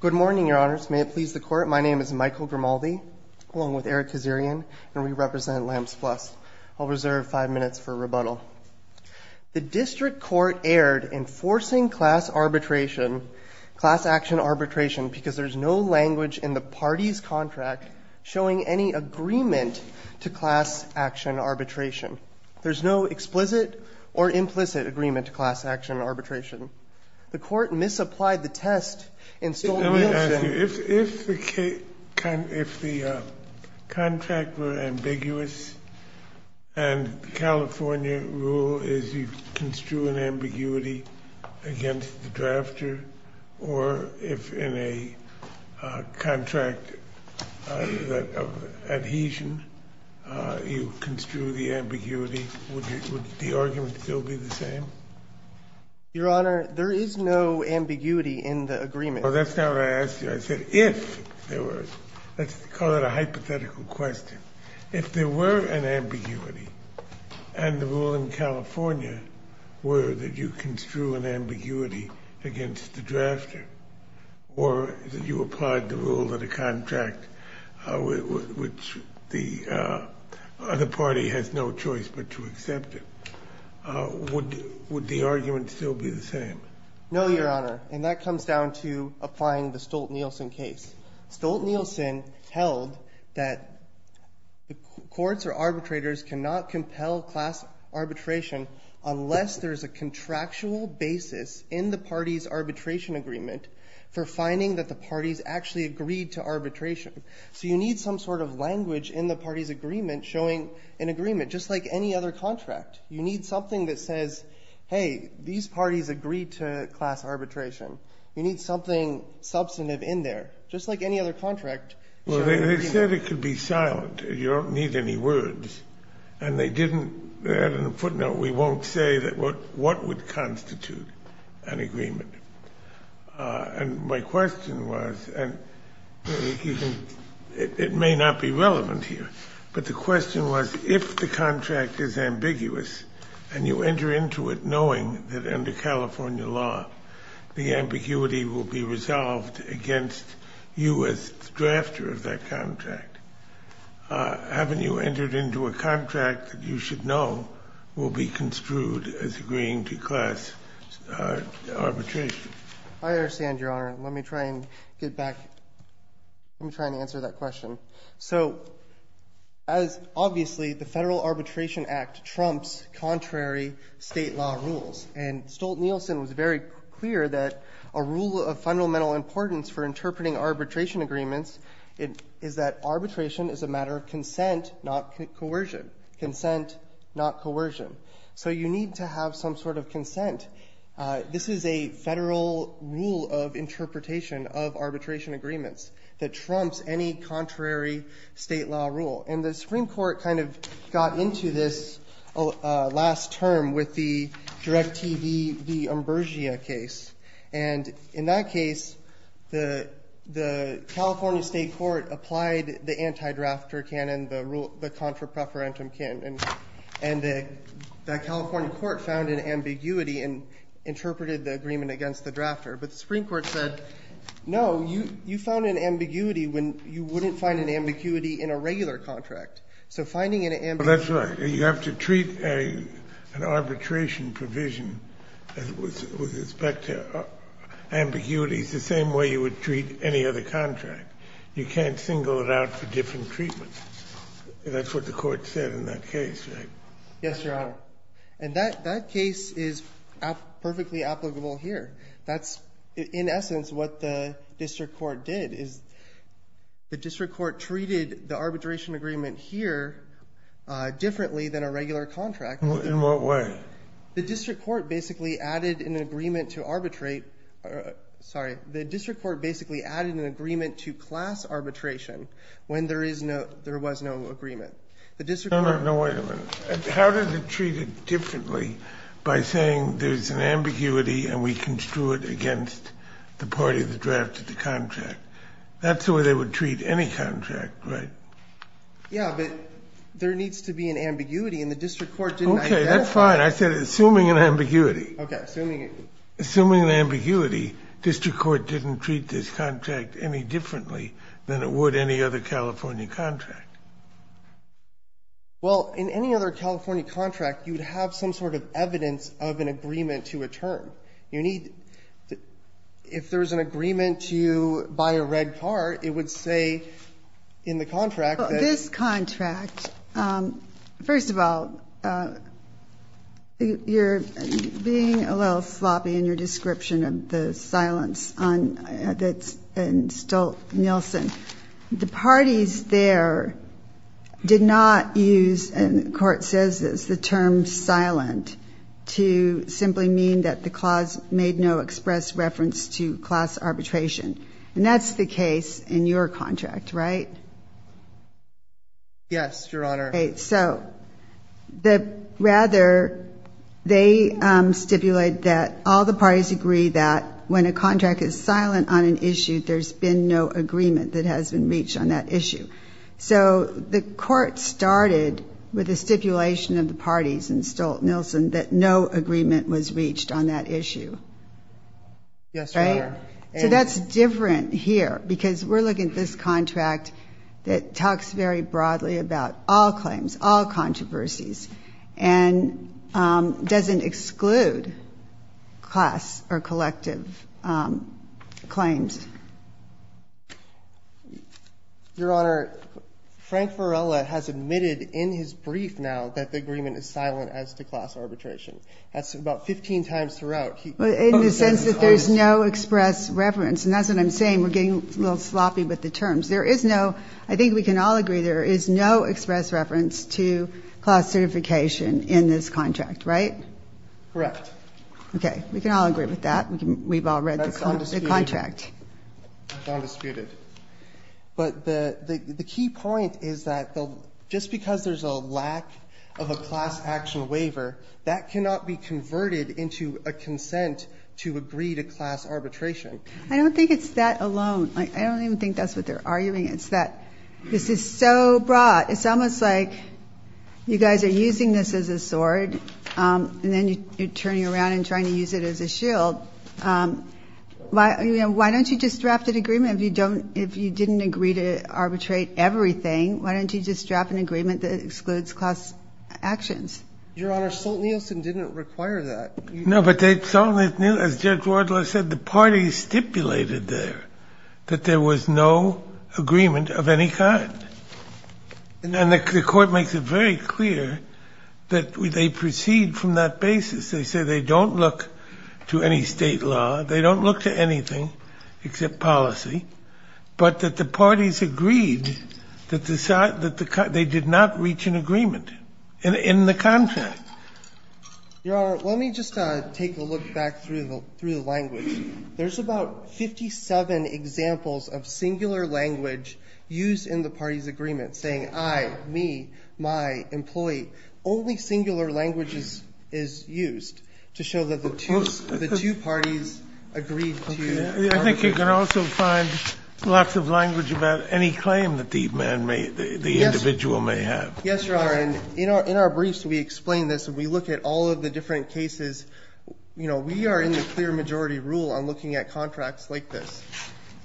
Good morning, Your Honors. May it please the Court, my name is Michael Grimaldi, along with Eric Kazerian, and we represent Lamps Plus. I'll reserve five minutes for rebuttal. The District Court erred in forcing class arbitration, class action arbitration, because there's no language in the party's contract showing any agreement to class action arbitration. There's no explicit or implicit agreement to class action arbitration. The Court misapplied the test and stole Nielsen. Let me ask you, if the contract were ambiguous and the California rule is you construe an ambiguity against the drafter, or if in a contract of adhesion you construe the ambiguity, would the argument still be the same? Your Honor, there is no ambiguity in the agreement. Well, that's not what I asked you. I said if there was. Let's call it a hypothetical question. If there were an ambiguity and the rule in California were that you construe an ambiguity against the drafter, or that you applied the rule of the contract, which the other party has no choice but to accept it, would the argument still be the same? No, Your Honor, and that comes down to applying the Stolt-Nielsen case. Stolt-Nielsen held that courts or arbitrators cannot compel class arbitration unless there's a contractual basis in the party's arbitration agreement for finding that the parties actually agreed to arbitration. So you need some sort of language in the party's agreement showing an agreement, just like any other contract. You need something that says, hey, these parties agree to class arbitration. You need something substantive in there, just like any other contract. Well, they said it could be silent. You don't need any words, and they didn't add a footnote. We won't say what would constitute an agreement. And my question was, and it may not be relevant here, but the question was, if the contract is ambiguous and you enter into it knowing that under California law the ambiguity will be resolved against you as drafter of that contract, haven't you entered into a contract that you should know will be construed as agreeing to class arbitration? I understand, Your Honor. Let me try and get back. Let me try and answer that question. So as obviously the Federal Arbitration Act trumps contrary state law rules, and Stolt-Nielsen was very clear that a rule of fundamental importance for interpreting arbitration agreements is that arbitration is a matter of consent, not coercion. Consent, not coercion. This is a federal rule of interpretation of arbitration agreements that trumps any contrary state law rule. And the Supreme Court kind of got into this last term with the DirecTV v. Ambrosia case, and in that case the California State Court applied the anti-drafter canon, the contra preferentum canon, and the California court found an ambiguity and interpreted the agreement against the drafter. But the Supreme Court said, no, you found an ambiguity when you wouldn't find an ambiguity in a regular contract. So finding an ambiguity... That's right. You have to treat an arbitration provision with respect to ambiguities the same way you would treat any other contract. You can't single it out for different treatments. That's what the court said in that case, right? Yes, Your Honor. And that case is perfectly applicable here. That's, in essence, what the district court did. The district court treated the arbitration agreement here differently than a regular contract. In what way? The district court basically added an agreement to arbitrate. Sorry. The district court basically added an agreement to class arbitration when there was no agreement. The district court... No, wait a minute. How does it treat it differently by saying there's an ambiguity and we construe it against the party that drafted the contract? That's the way they would treat any contract, right? Yeah, but there needs to be an ambiguity and the district court didn't identify... Okay, that's fine. I said assuming an ambiguity. Okay, assuming... an ambiguity, district court didn't treat this contract any differently than it would any other California contract. Well, in any other California contract, you would have some sort of evidence of an agreement to a term. You need... If there's an agreement to buy a red car, it would say in the contract that... First of all, you're being a little sloppy in your description of the silence that's in Stolt-Nielsen. The parties there did not use, and the court says this, the term silent to simply mean that the clause made no express reference to class arbitration. And that's the case in your contract, right? Yes, Your Honor. So rather, they stipulate that all the parties agree that when a contract is silent on an issue, there's been no agreement that has been reached on that issue. So the court started with a stipulation of the parties in Stolt-Nielsen that no agreement was reached on that issue. Yes, Your Honor. So that's different here, because we're looking at this contract that talks very broadly about all claims, all controversies, and doesn't exclude class or collective claims. Your Honor, Frank Varela has admitted in his brief now that the agreement is silent as to class arbitration. That's about 15 times throughout. In the sense that there's no express reference, and that's what I'm saying, we're getting a little sloppy with the terms. There is no ‑‑ I think we can all agree there is no express reference to class certification in this contract, right? Correct. Okay. We can all agree with that. We've all read the contract. That's undisputed. But the key point is that just because there's a lack of a class action waiver, that cannot be converted into a consent to agree to class arbitration. I don't think it's that alone. I don't even think that's what they're arguing. It's that this is so broad. It's almost like you guys are using this as a sword, and then you're turning around and trying to use it as a shield. Why don't you just draft an agreement if you don't ‑‑ if you didn't agree to arbitrate everything? Why don't you just draft an agreement that excludes class actions? Your Honor, Stoltenhielsen didn't require that. No, but Stoltenhielsen, as Judge Wardlaw said, the parties stipulated there that there was no agreement of any kind. And the court makes it very clear that they proceed from that basis. They say they don't look to any state law. They don't look to anything except policy. But that the parties agreed that they did not reach an agreement in the contract. Your Honor, let me just take a look back through the language. There's about 57 examples of singular language used in the parties' agreement saying I, me, my, employee. Only singular language is used to show that the two parties agreed to ‑‑ I think you can also find lots of language about any claim that the individual may have. Yes, Your Honor, and in our briefs, we explain this, and we look at all of the different cases. You know, we are in the clear majority rule on looking at contracts like this.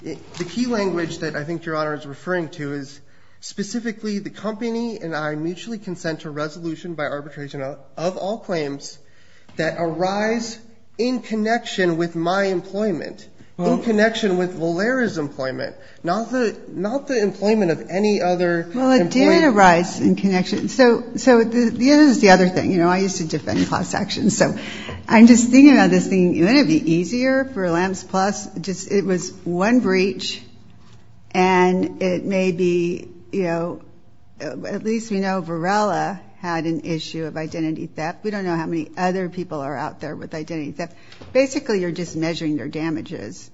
The key language that I think Your Honor is referring to is specifically the company and I mutually consent to a resolution by arbitration of all claims that arise in connection with my employment, in connection with Valera's employment, not the ‑‑ not the employment of any other employee. Well, it did arise in connection. So the other thing, you know, I used to defend class actions. So I'm just thinking about this thing. Wouldn't it be easier for LAMS Plus? Just it was one breach, and it may be, you know, at least we know Varela had an issue of identity theft. We don't know how many other people are out there with identity theft. Basically, you're just measuring their damages.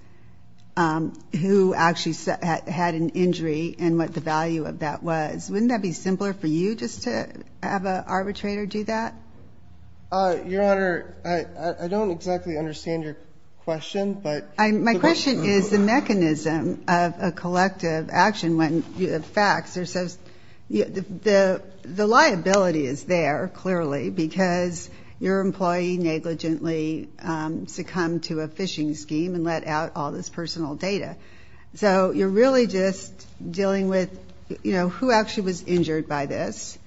Who actually had an injury and what the value of that was. Wouldn't that be simpler for you just to have an arbitrator do that? Your Honor, I don't exactly understand your question, but ‑‑ My question is the mechanism of a collective action when the facts are so ‑‑ the liability is there, clearly, because your employee negligently succumbed to a phishing scheme and let out all this personal data. So you're really just dealing with, you know, who actually was injured by this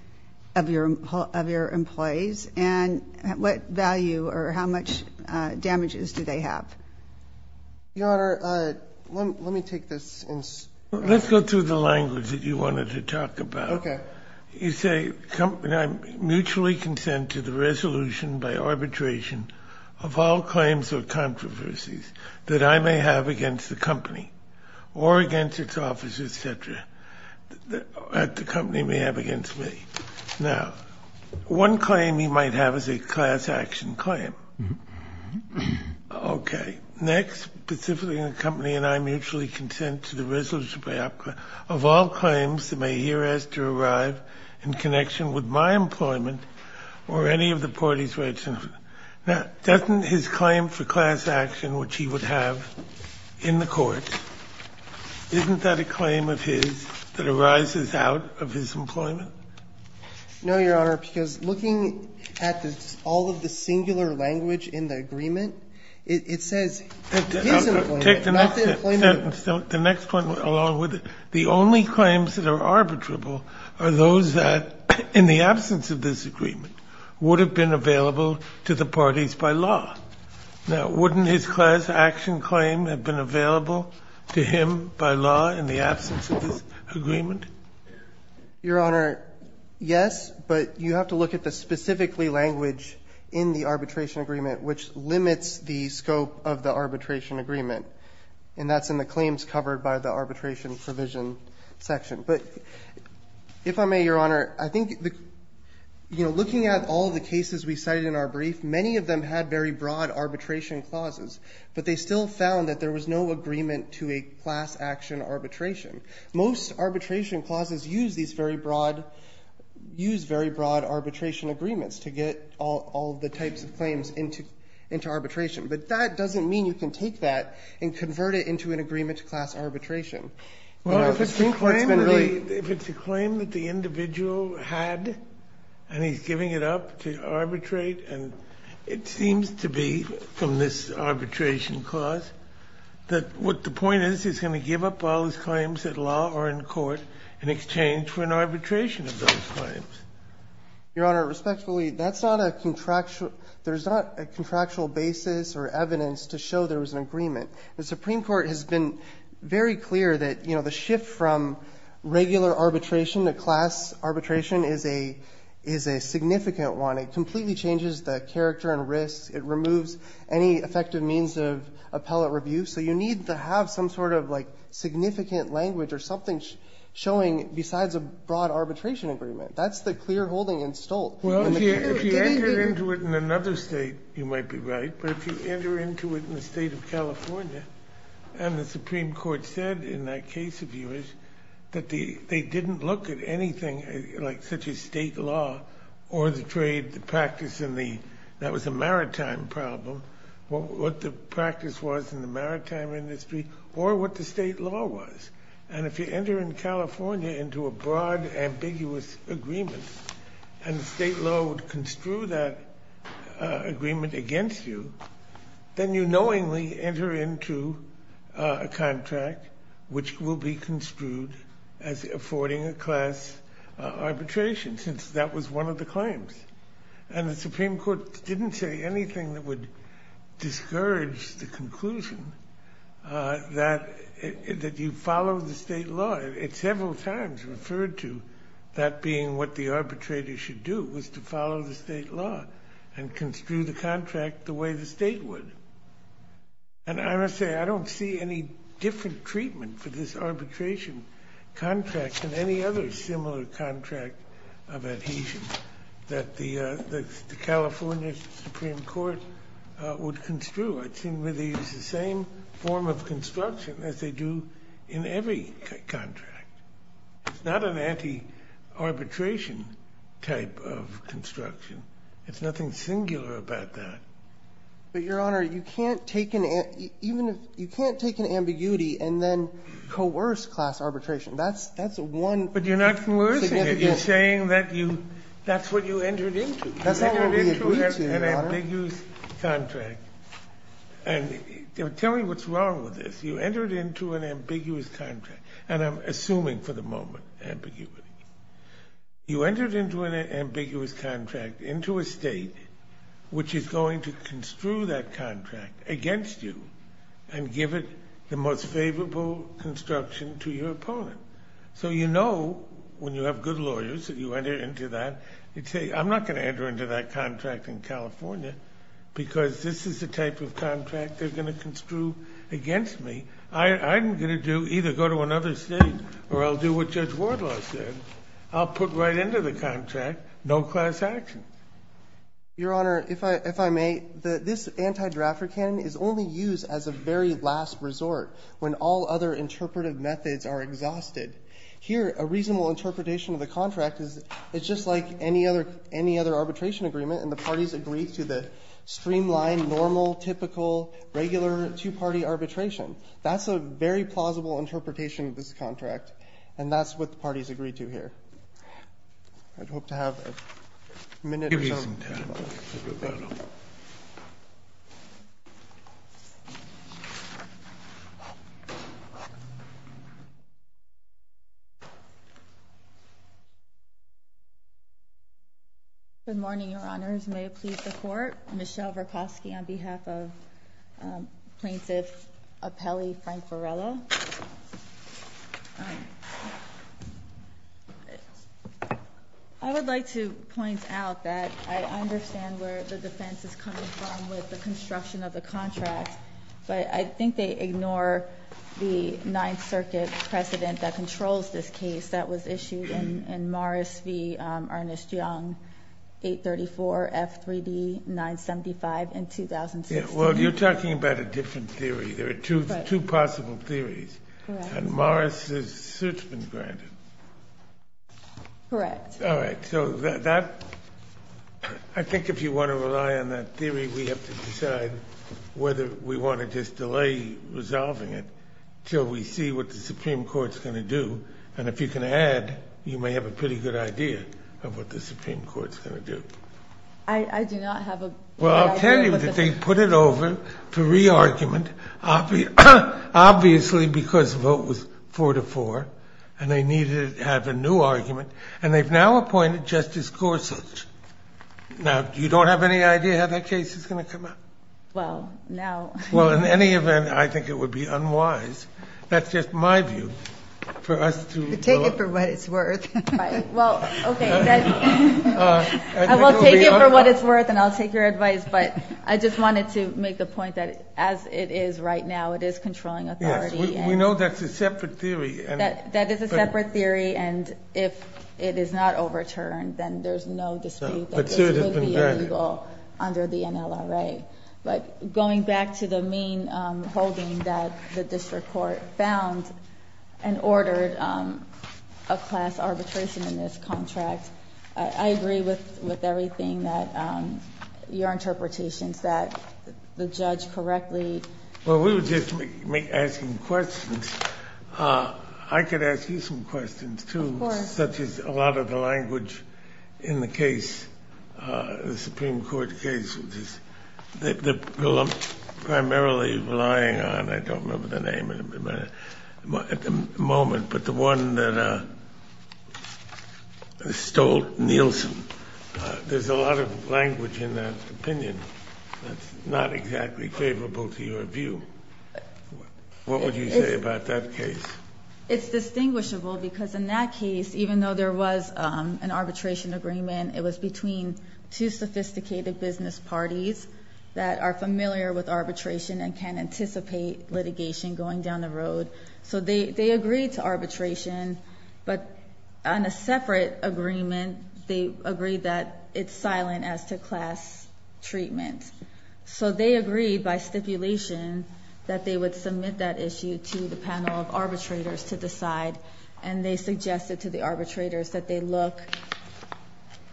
of your employees and what value or how much damages do they have? Your Honor, let me take this in ‑‑ Let's go through the language that you wanted to talk about. Okay. You say, mutually consent to the resolution by arbitration of all claims or controversies that I may have against the company or against its officers, et cetera, that the company may have against me. Now, one claim you might have is a class action claim. Okay. Next, specifically in the company and I mutually consent to the resolution of all claims that may hereas to arrive in connection with my employment or any of the party's rights. Now, doesn't his claim for class action, which he would have in the court, isn't that a claim of his that arises out of his employment? No, Your Honor, because looking at all of the singular language in the agreement, it says his employment, not the employment ‑‑ The next point along with it, the only claims that are arbitrable are those that, in the absence of this agreement, would have been available to the parties by law. Now, wouldn't his class action claim have been available to him by law in the absence of this agreement? Your Honor, yes, but you have to look at the specifically language in the arbitration agreement which limits the scope of the arbitration agreement, and that's in the claims covered by the arbitration provision section. But if I may, Your Honor, I think, you know, looking at all of the cases we cited in our brief, many of them had very broad arbitration clauses, but they still found that there was no agreement to a class action arbitration. Most arbitration clauses use these very broad ‑‑ use very broad arbitration agreements to get all the types of claims into arbitration, but that doesn't mean you can take that and convert it into an agreement to class arbitration. Well, if it's a claim that the individual had and he's giving it up to arbitrate and it seems to be, from this arbitration clause, that what the point is he's going to give up all his claims at law or in court in exchange for an arbitration of those claims. Your Honor, respectfully, that's not a contractual ‑‑ there's not a contractual basis or evidence to show there was an agreement. The Supreme Court has been very clear that, you know, the shift from regular arbitration to class arbitration is a significant one. It completely changes the character and risks. It removes any effective means of appellate review. So you need to have some sort of, like, significant language or something showing besides a broad arbitration agreement. That's the clear holding in Stolt. Well, if you enter into it in another State, you might be right, but if you enter into it in the State of California and the Supreme Court said in that case of yours that they didn't look at anything, like, such as State law or the trade, the practice in the ‑‑ that was a maritime problem, what the practice was in the maritime industry or what the State law was. And if you enter in California into a broad, ambiguous agreement and the State law would construe that agreement against you, then you knowingly enter into a contract which will be construed as affording a class arbitration since that was one of the claims. And the Supreme Court didn't say anything that would discourage the conclusion that you follow the State law. It several times referred to that being what the arbitrator should do was to follow the State law and construe the contract the way the State would. And I must say I don't see any different treatment for this arbitration contract than any other similar contract of adhesion that the California Supreme Court would construe. It's the same form of construction as they do in every contract. It's not an anti‑arbitration type of construction. There's nothing singular about that. But, Your Honor, you can't take an ambiguity and then coerce class arbitration. But you're not coercing it. You're saying that's what you entered into. You entered into an ambiguous contract. And tell me what's wrong with this. You entered into an ambiguous contract. And I'm assuming for the moment ambiguity. You entered into an ambiguous contract into a State which is going to construe that contract against you and give it the most favorable construction to your opponent. So you know when you have good lawyers that you enter into that. I'm not going to enter into that contract in California because this is the type of contract they're going to construe against me. I'm going to either go to another State or I'll do what Judge Wardlaw said. I'll put right into the contract no class action. Your Honor, if I may, this anti‑drafter canon is only used as a very last resort when all other interpretive methods are exhausted. Here a reasonable interpretation of the contract is it's just like any other arbitration agreement and the parties agree to the streamlined, normal, typical, regular two‑party arbitration. That's a very plausible interpretation of this contract. And that's what the parties agree to here. I hope to have a minute or so. Thank you, Your Honor. Good morning, Your Honors. May it please the Court. Michelle Vroposky on behalf of Plaintiff Appellee Frank Varela. I would like to point out that I understand where the defense is coming from with the construction of the contract, but I think they ignore the Ninth Circuit precedent that controls this case that was issued in Morris v. Ernest Young, 834 F3D 975 in 2016. Well, you're talking about a different theory. There are two possible theories. Correct. And Morris's suit's been granted. Correct. All right. So I think if you want to rely on that theory, we have to decide whether we want to just delay resolving it until we see what the Supreme Court's going to do. And if you can add, you may have a pretty good idea of what the Supreme Court's going to do. I do not have a good idea. Well, I'll tell you that they put it over for re-argument, obviously because the vote was 4-4, and they needed to have a new argument, and they've now appointed Justice Gorsuch. Now, you don't have any idea how that case is going to come out? Well, now. Well, in any event, I think it would be unwise. That's just my view. Take it for what it's worth. Right. Well, okay. I will take it for what it's worth, and I'll take your advice, but I just wanted to make the point that as it is right now, it is controlling authority. Yes, we know that's a separate theory. That is a separate theory, and if it is not overturned, then there's no dispute that this would be illegal under the NLRA. But going back to the main holding that the district court found and ordered a class arbitration in this contract, I agree with everything that your interpretation is that the judge correctly. Well, we were just asking questions. I could ask you some questions, too. Of course. Such as a lot of the language in the case, the Supreme Court case, which is primarily relying on, I don't remember the name at the moment, but the one that stole Nielsen, there's a lot of language in that opinion that's not exactly favorable to your view. What would you say about that case? It's distinguishable because in that case, even though there was an arbitration agreement, it was between two sophisticated business parties that are familiar with arbitration and can anticipate litigation going down the road. So they agreed to arbitration, but on a separate agreement, they agreed that it's silent as to class treatment. So they agreed by stipulation that they would submit that issue to the panel of arbitrators to decide, and they suggested to the arbitrators that they look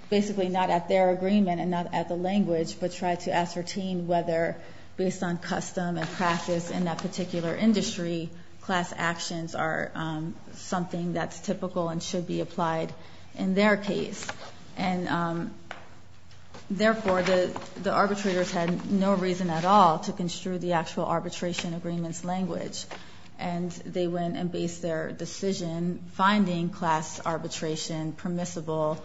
basically not at their agreement and not at the language, but try to ascertain whether, based on custom and practice in that particular industry, class actions are something that's typical and should be applied in their case. And, therefore, the arbitrators had no reason at all to construe the actual arbitration agreement's language, and they went and based their decision finding class arbitration permissible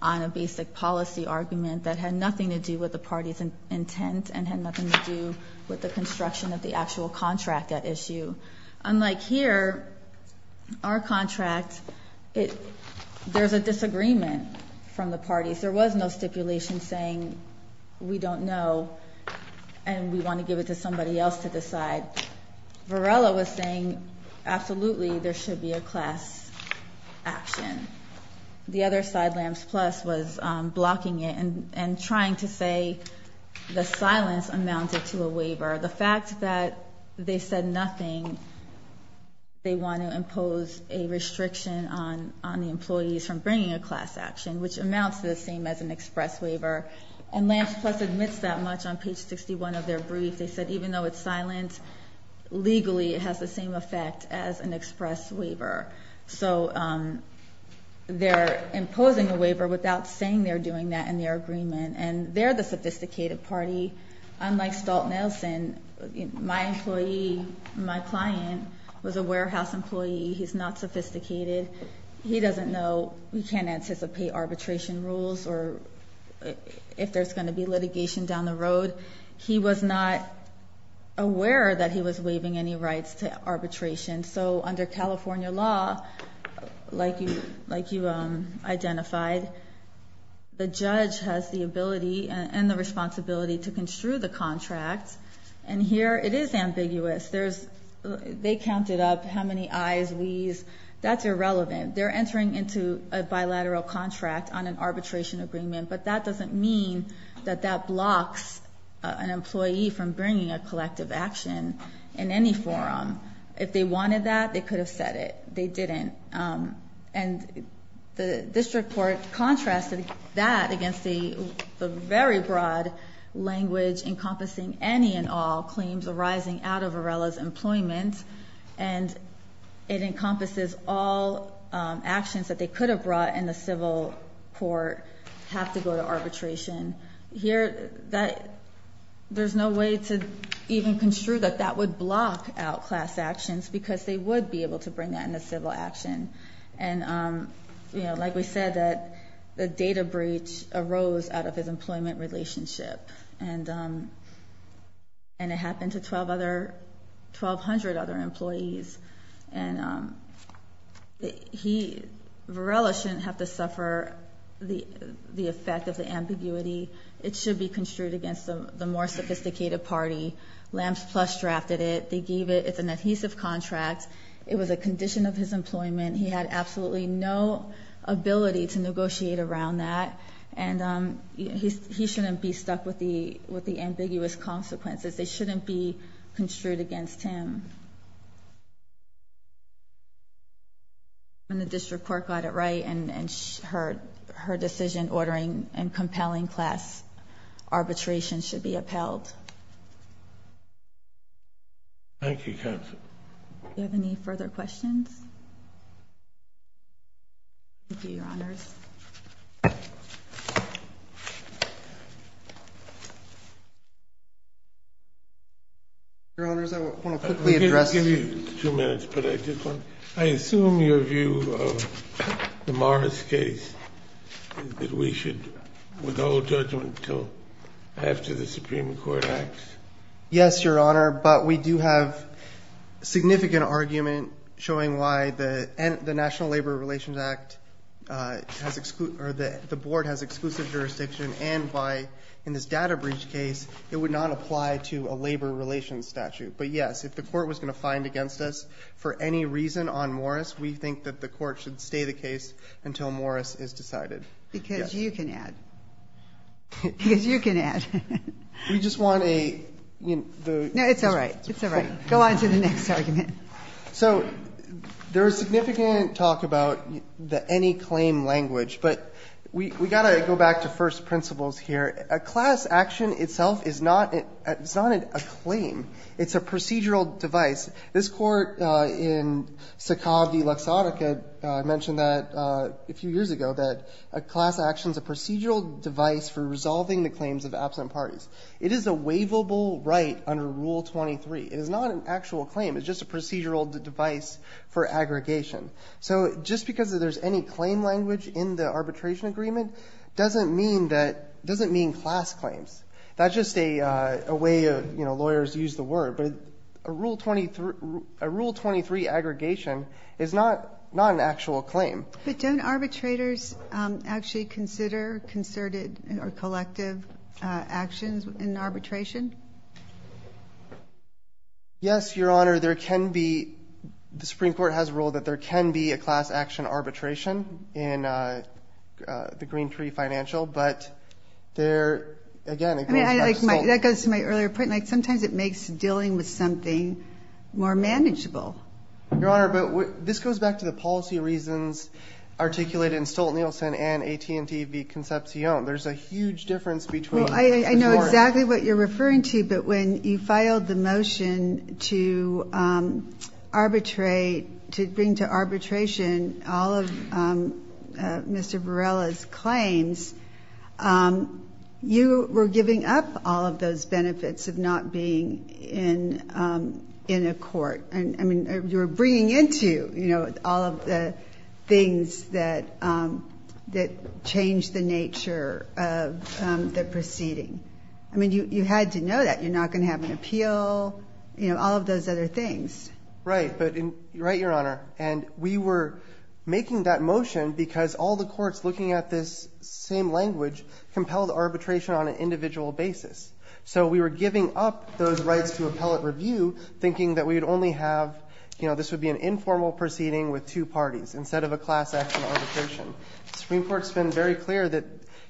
on a basic policy argument that had nothing to do with the party's intent and had nothing to do with the construction of the actual contract at issue. Unlike here, our contract, there's a disagreement from the parties. There was no stipulation saying we don't know and we want to give it to somebody else to decide. Varela was saying absolutely there should be a class action. The other side, LAMS Plus, was blocking it and trying to say the silence amounted to a waiver. The fact that they said nothing, they want to impose a restriction on the employees from bringing a class action, which amounts to the same as an express waiver. And LAMS Plus admits that much on page 61 of their brief. They said even though it's silent, legally it has the same effect as an express waiver. So they're imposing a waiver without saying they're doing that in their agreement, and they're the sophisticated party. Unlike Stolt-Nelson, my employee, my client, was a warehouse employee. He's not sophisticated. He doesn't know. He can't anticipate arbitration rules or if there's going to be litigation down the road. He was not aware that he was waiving any rights to arbitration. So under California law, like you identified, the judge has the ability and the responsibility to construe the contract, and here it is ambiguous. They counted up how many ayes, whees. That's irrelevant. They're entering into a bilateral contract on an arbitration agreement, but that doesn't mean that that blocks an employee from bringing a collective action in any forum. If they wanted that, they could have said it. They didn't. And the district court contrasted that against the very broad language encompassing any and all claims arising out of Varela's employment, and it encompasses all actions that they could have brought in the civil court have to go to arbitration. Here, there's no way to even construe that that would block out class actions because they would be able to bring that in the civil action. And like we said, the data breach arose out of his employment relationship, and it happened to 1,200 other employees. And Varela shouldn't have to suffer the effect of the ambiguity. It should be construed against the more sophisticated party. LAMS Plus drafted it. They gave it. It's an adhesive contract. It was a condition of his employment. He had absolutely no ability to negotiate around that, and he shouldn't be stuck with the ambiguous consequences. They shouldn't be construed against him. And the district court got it right, and her decision ordering and compelling class arbitration should be upheld. Thank you, counsel. Do you have any further questions? Thank you, Your Honors. Your Honors, I want to quickly address this. I didn't give you two minutes, but I did want to. I assume your view of the Morris case is that we should withhold judgment until after the Supreme Court acts? Yes, Your Honor, but we do have significant argument showing why the National Labor Relations Act has exclude or the board has exclusive jurisdiction and why, in this data breach case, it would not apply to a labor relations statute. But, yes, if the court was going to find against us for any reason on Morris, we think that the court should stay the case until Morris is decided. Because you can add. Because you can add. We just want a... No, it's all right. It's all right. Go on to the next argument. So there is significant talk about the any claim language, but we've got to go back to first principles here. A class action itself is not a claim. It's a procedural device. This Court in Sakavi Luxottica mentioned that a few years ago, that a class action is a procedural device for resolving the claims of absent parties. It is a waivable right under Rule 23. It is not an actual claim. It's just a procedural device for aggregation. So just because there's any claim language in the arbitration agreement doesn't mean class claims. That's just a way lawyers use the word. But a Rule 23 aggregation is not an actual claim. But don't arbitrators actually consider concerted or collective actions in arbitration? Yes, Your Honor. There can be... The Supreme Court has ruled that there can be a class action arbitration in the Green Tree Financial, but there... That goes to my earlier point. Sometimes it makes dealing with something more manageable. Your Honor, this goes back to the policy reasons articulated in Stolt-Nielsen and AT&T v. Concepcion. There's a huge difference between... I know exactly what you're referring to, but when you filed the motion to bring to arbitration all of Mr. Varela's claims, you were giving up all of those benefits of not being in a court. You were bringing into all of the things that changed the nature of the proceeding. You had to know that. You're not going to have an appeal, all of those other things. Right, Your Honor. We were making that motion because all the courts looking at this same language compelled arbitration on an individual basis. So we were giving up those rights to appellate review thinking that this would be an informal proceeding with two parties instead of a class action arbitration. The Supreme Court has been very clear that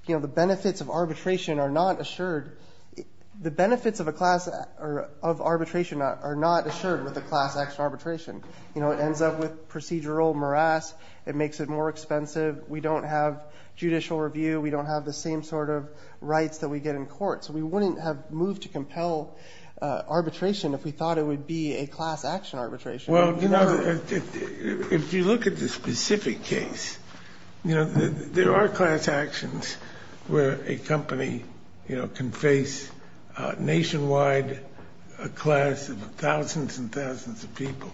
the benefits of arbitration are not assured. The benefits of arbitration are not assured with a class action arbitration. It ends up with procedural morass. It makes it more expensive. We don't have judicial review. We don't have the same sort of rights that we get in court. So we wouldn't have moved to compel arbitration if we thought it would be a class action arbitration. Well, you know, if you look at the specific case, there are class actions where a company can face nationwide a class of thousands and thousands of people.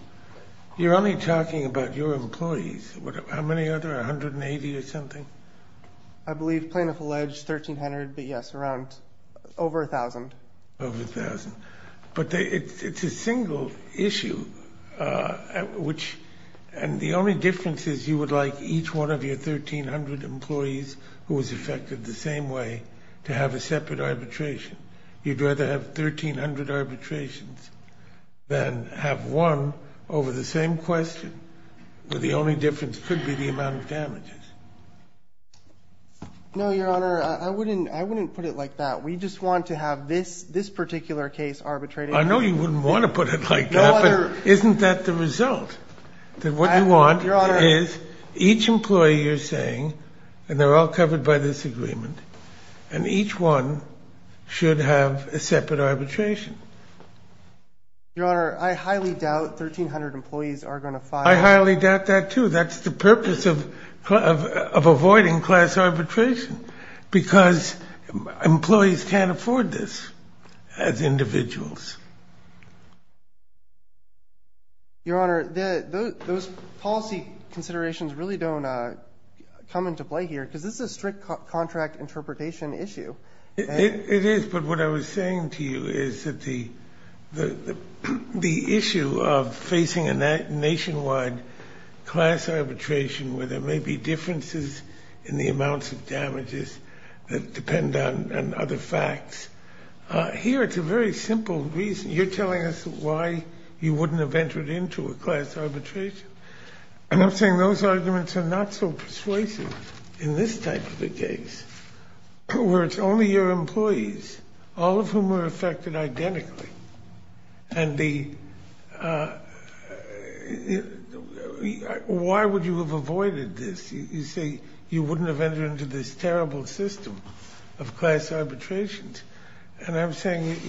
You're only talking about your employees. How many are there, 180 or something? I believe plaintiff alleged 1,300, but, yes, around over 1,000. Over 1,000. But it's a single issue, which the only difference is you would like each one of your 1,300 employees who was affected the same way to have a separate arbitration. You'd rather have 1,300 arbitrations than have one over the same question, where the only difference could be the amount of damages. No, Your Honor, I wouldn't put it like that. We just want to have this particular case arbitrated. I know you wouldn't want to put it like that, but isn't that the result? What you want is each employee you're saying, and they're all covered by this agreement, and each one should have a separate arbitration. Your Honor, I highly doubt 1,300 employees are going to file. I highly doubt that, too. That's the purpose of avoiding class arbitration, because employees can't afford this as individuals. Your Honor, those policy considerations really don't come into play here, because this is a strict contract interpretation issue. It is, but what I was saying to you is that the issue of facing a nationwide class arbitration where there may be differences in the amounts of damages that depend on other facts, here it's a very simple reason. You're telling us why you wouldn't have entered into a class arbitration, and I'm saying those arguments are not so persuasive in this type of a case, where it's only your employees, all of whom are affected identically, and why would you have avoided this? You say you wouldn't have entered into this terrible system of class arbitrations, and I'm saying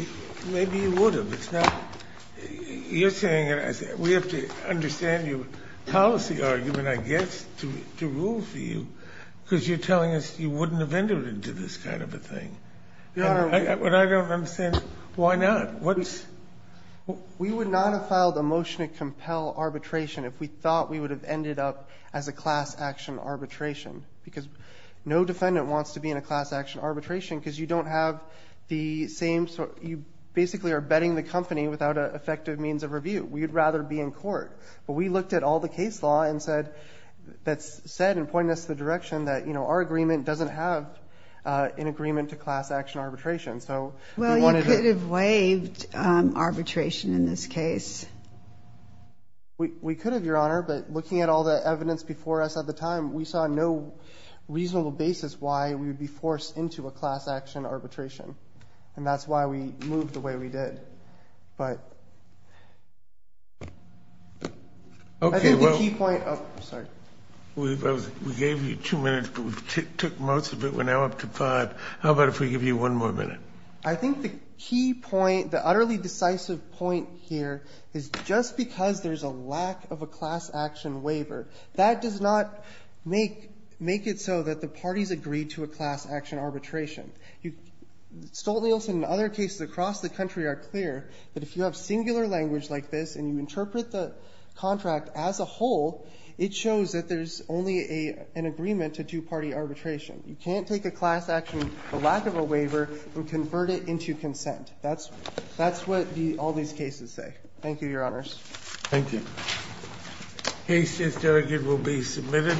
maybe you would have. You're saying, and we have to understand your policy argument, I guess, to rule for you, because you're telling us you wouldn't have entered into this kind of a thing. Your Honor. What I don't understand, why not? We would not have filed a motion to compel arbitration if we thought we would have ended up as a class action arbitration, because no defendant wants to be in a class action arbitration, because you basically are betting the company without an effective means of review. We would rather be in court. But we looked at all the case law that said and pointed us in the direction that our agreement doesn't have an agreement to class action arbitration. Well, you could have waived arbitration in this case. We could have, Your Honor, but looking at all the evidence before us at the time, we saw no reasonable basis why we would be forced into a class action arbitration, and that's why we moved the way we did. But I think the key point of the key point. We gave you two minutes, but we took most of it. We're now up to five. How about if we give you one more minute? I think the key point, the utterly decisive point here, is just because there's a lack of a class action waiver, that does not make it so that the parties agree to a class action arbitration. Stolt-Nielsen and other cases across the country are clear that if you have singular language like this and you interpret the contract as a whole, it shows that there's only an agreement to two-party arbitration. You can't take a class action, a lack of a waiver, and convert it into consent. That's what all these cases say. Thank you, Your Honors. Thank you. The case is delegated and will be submitted.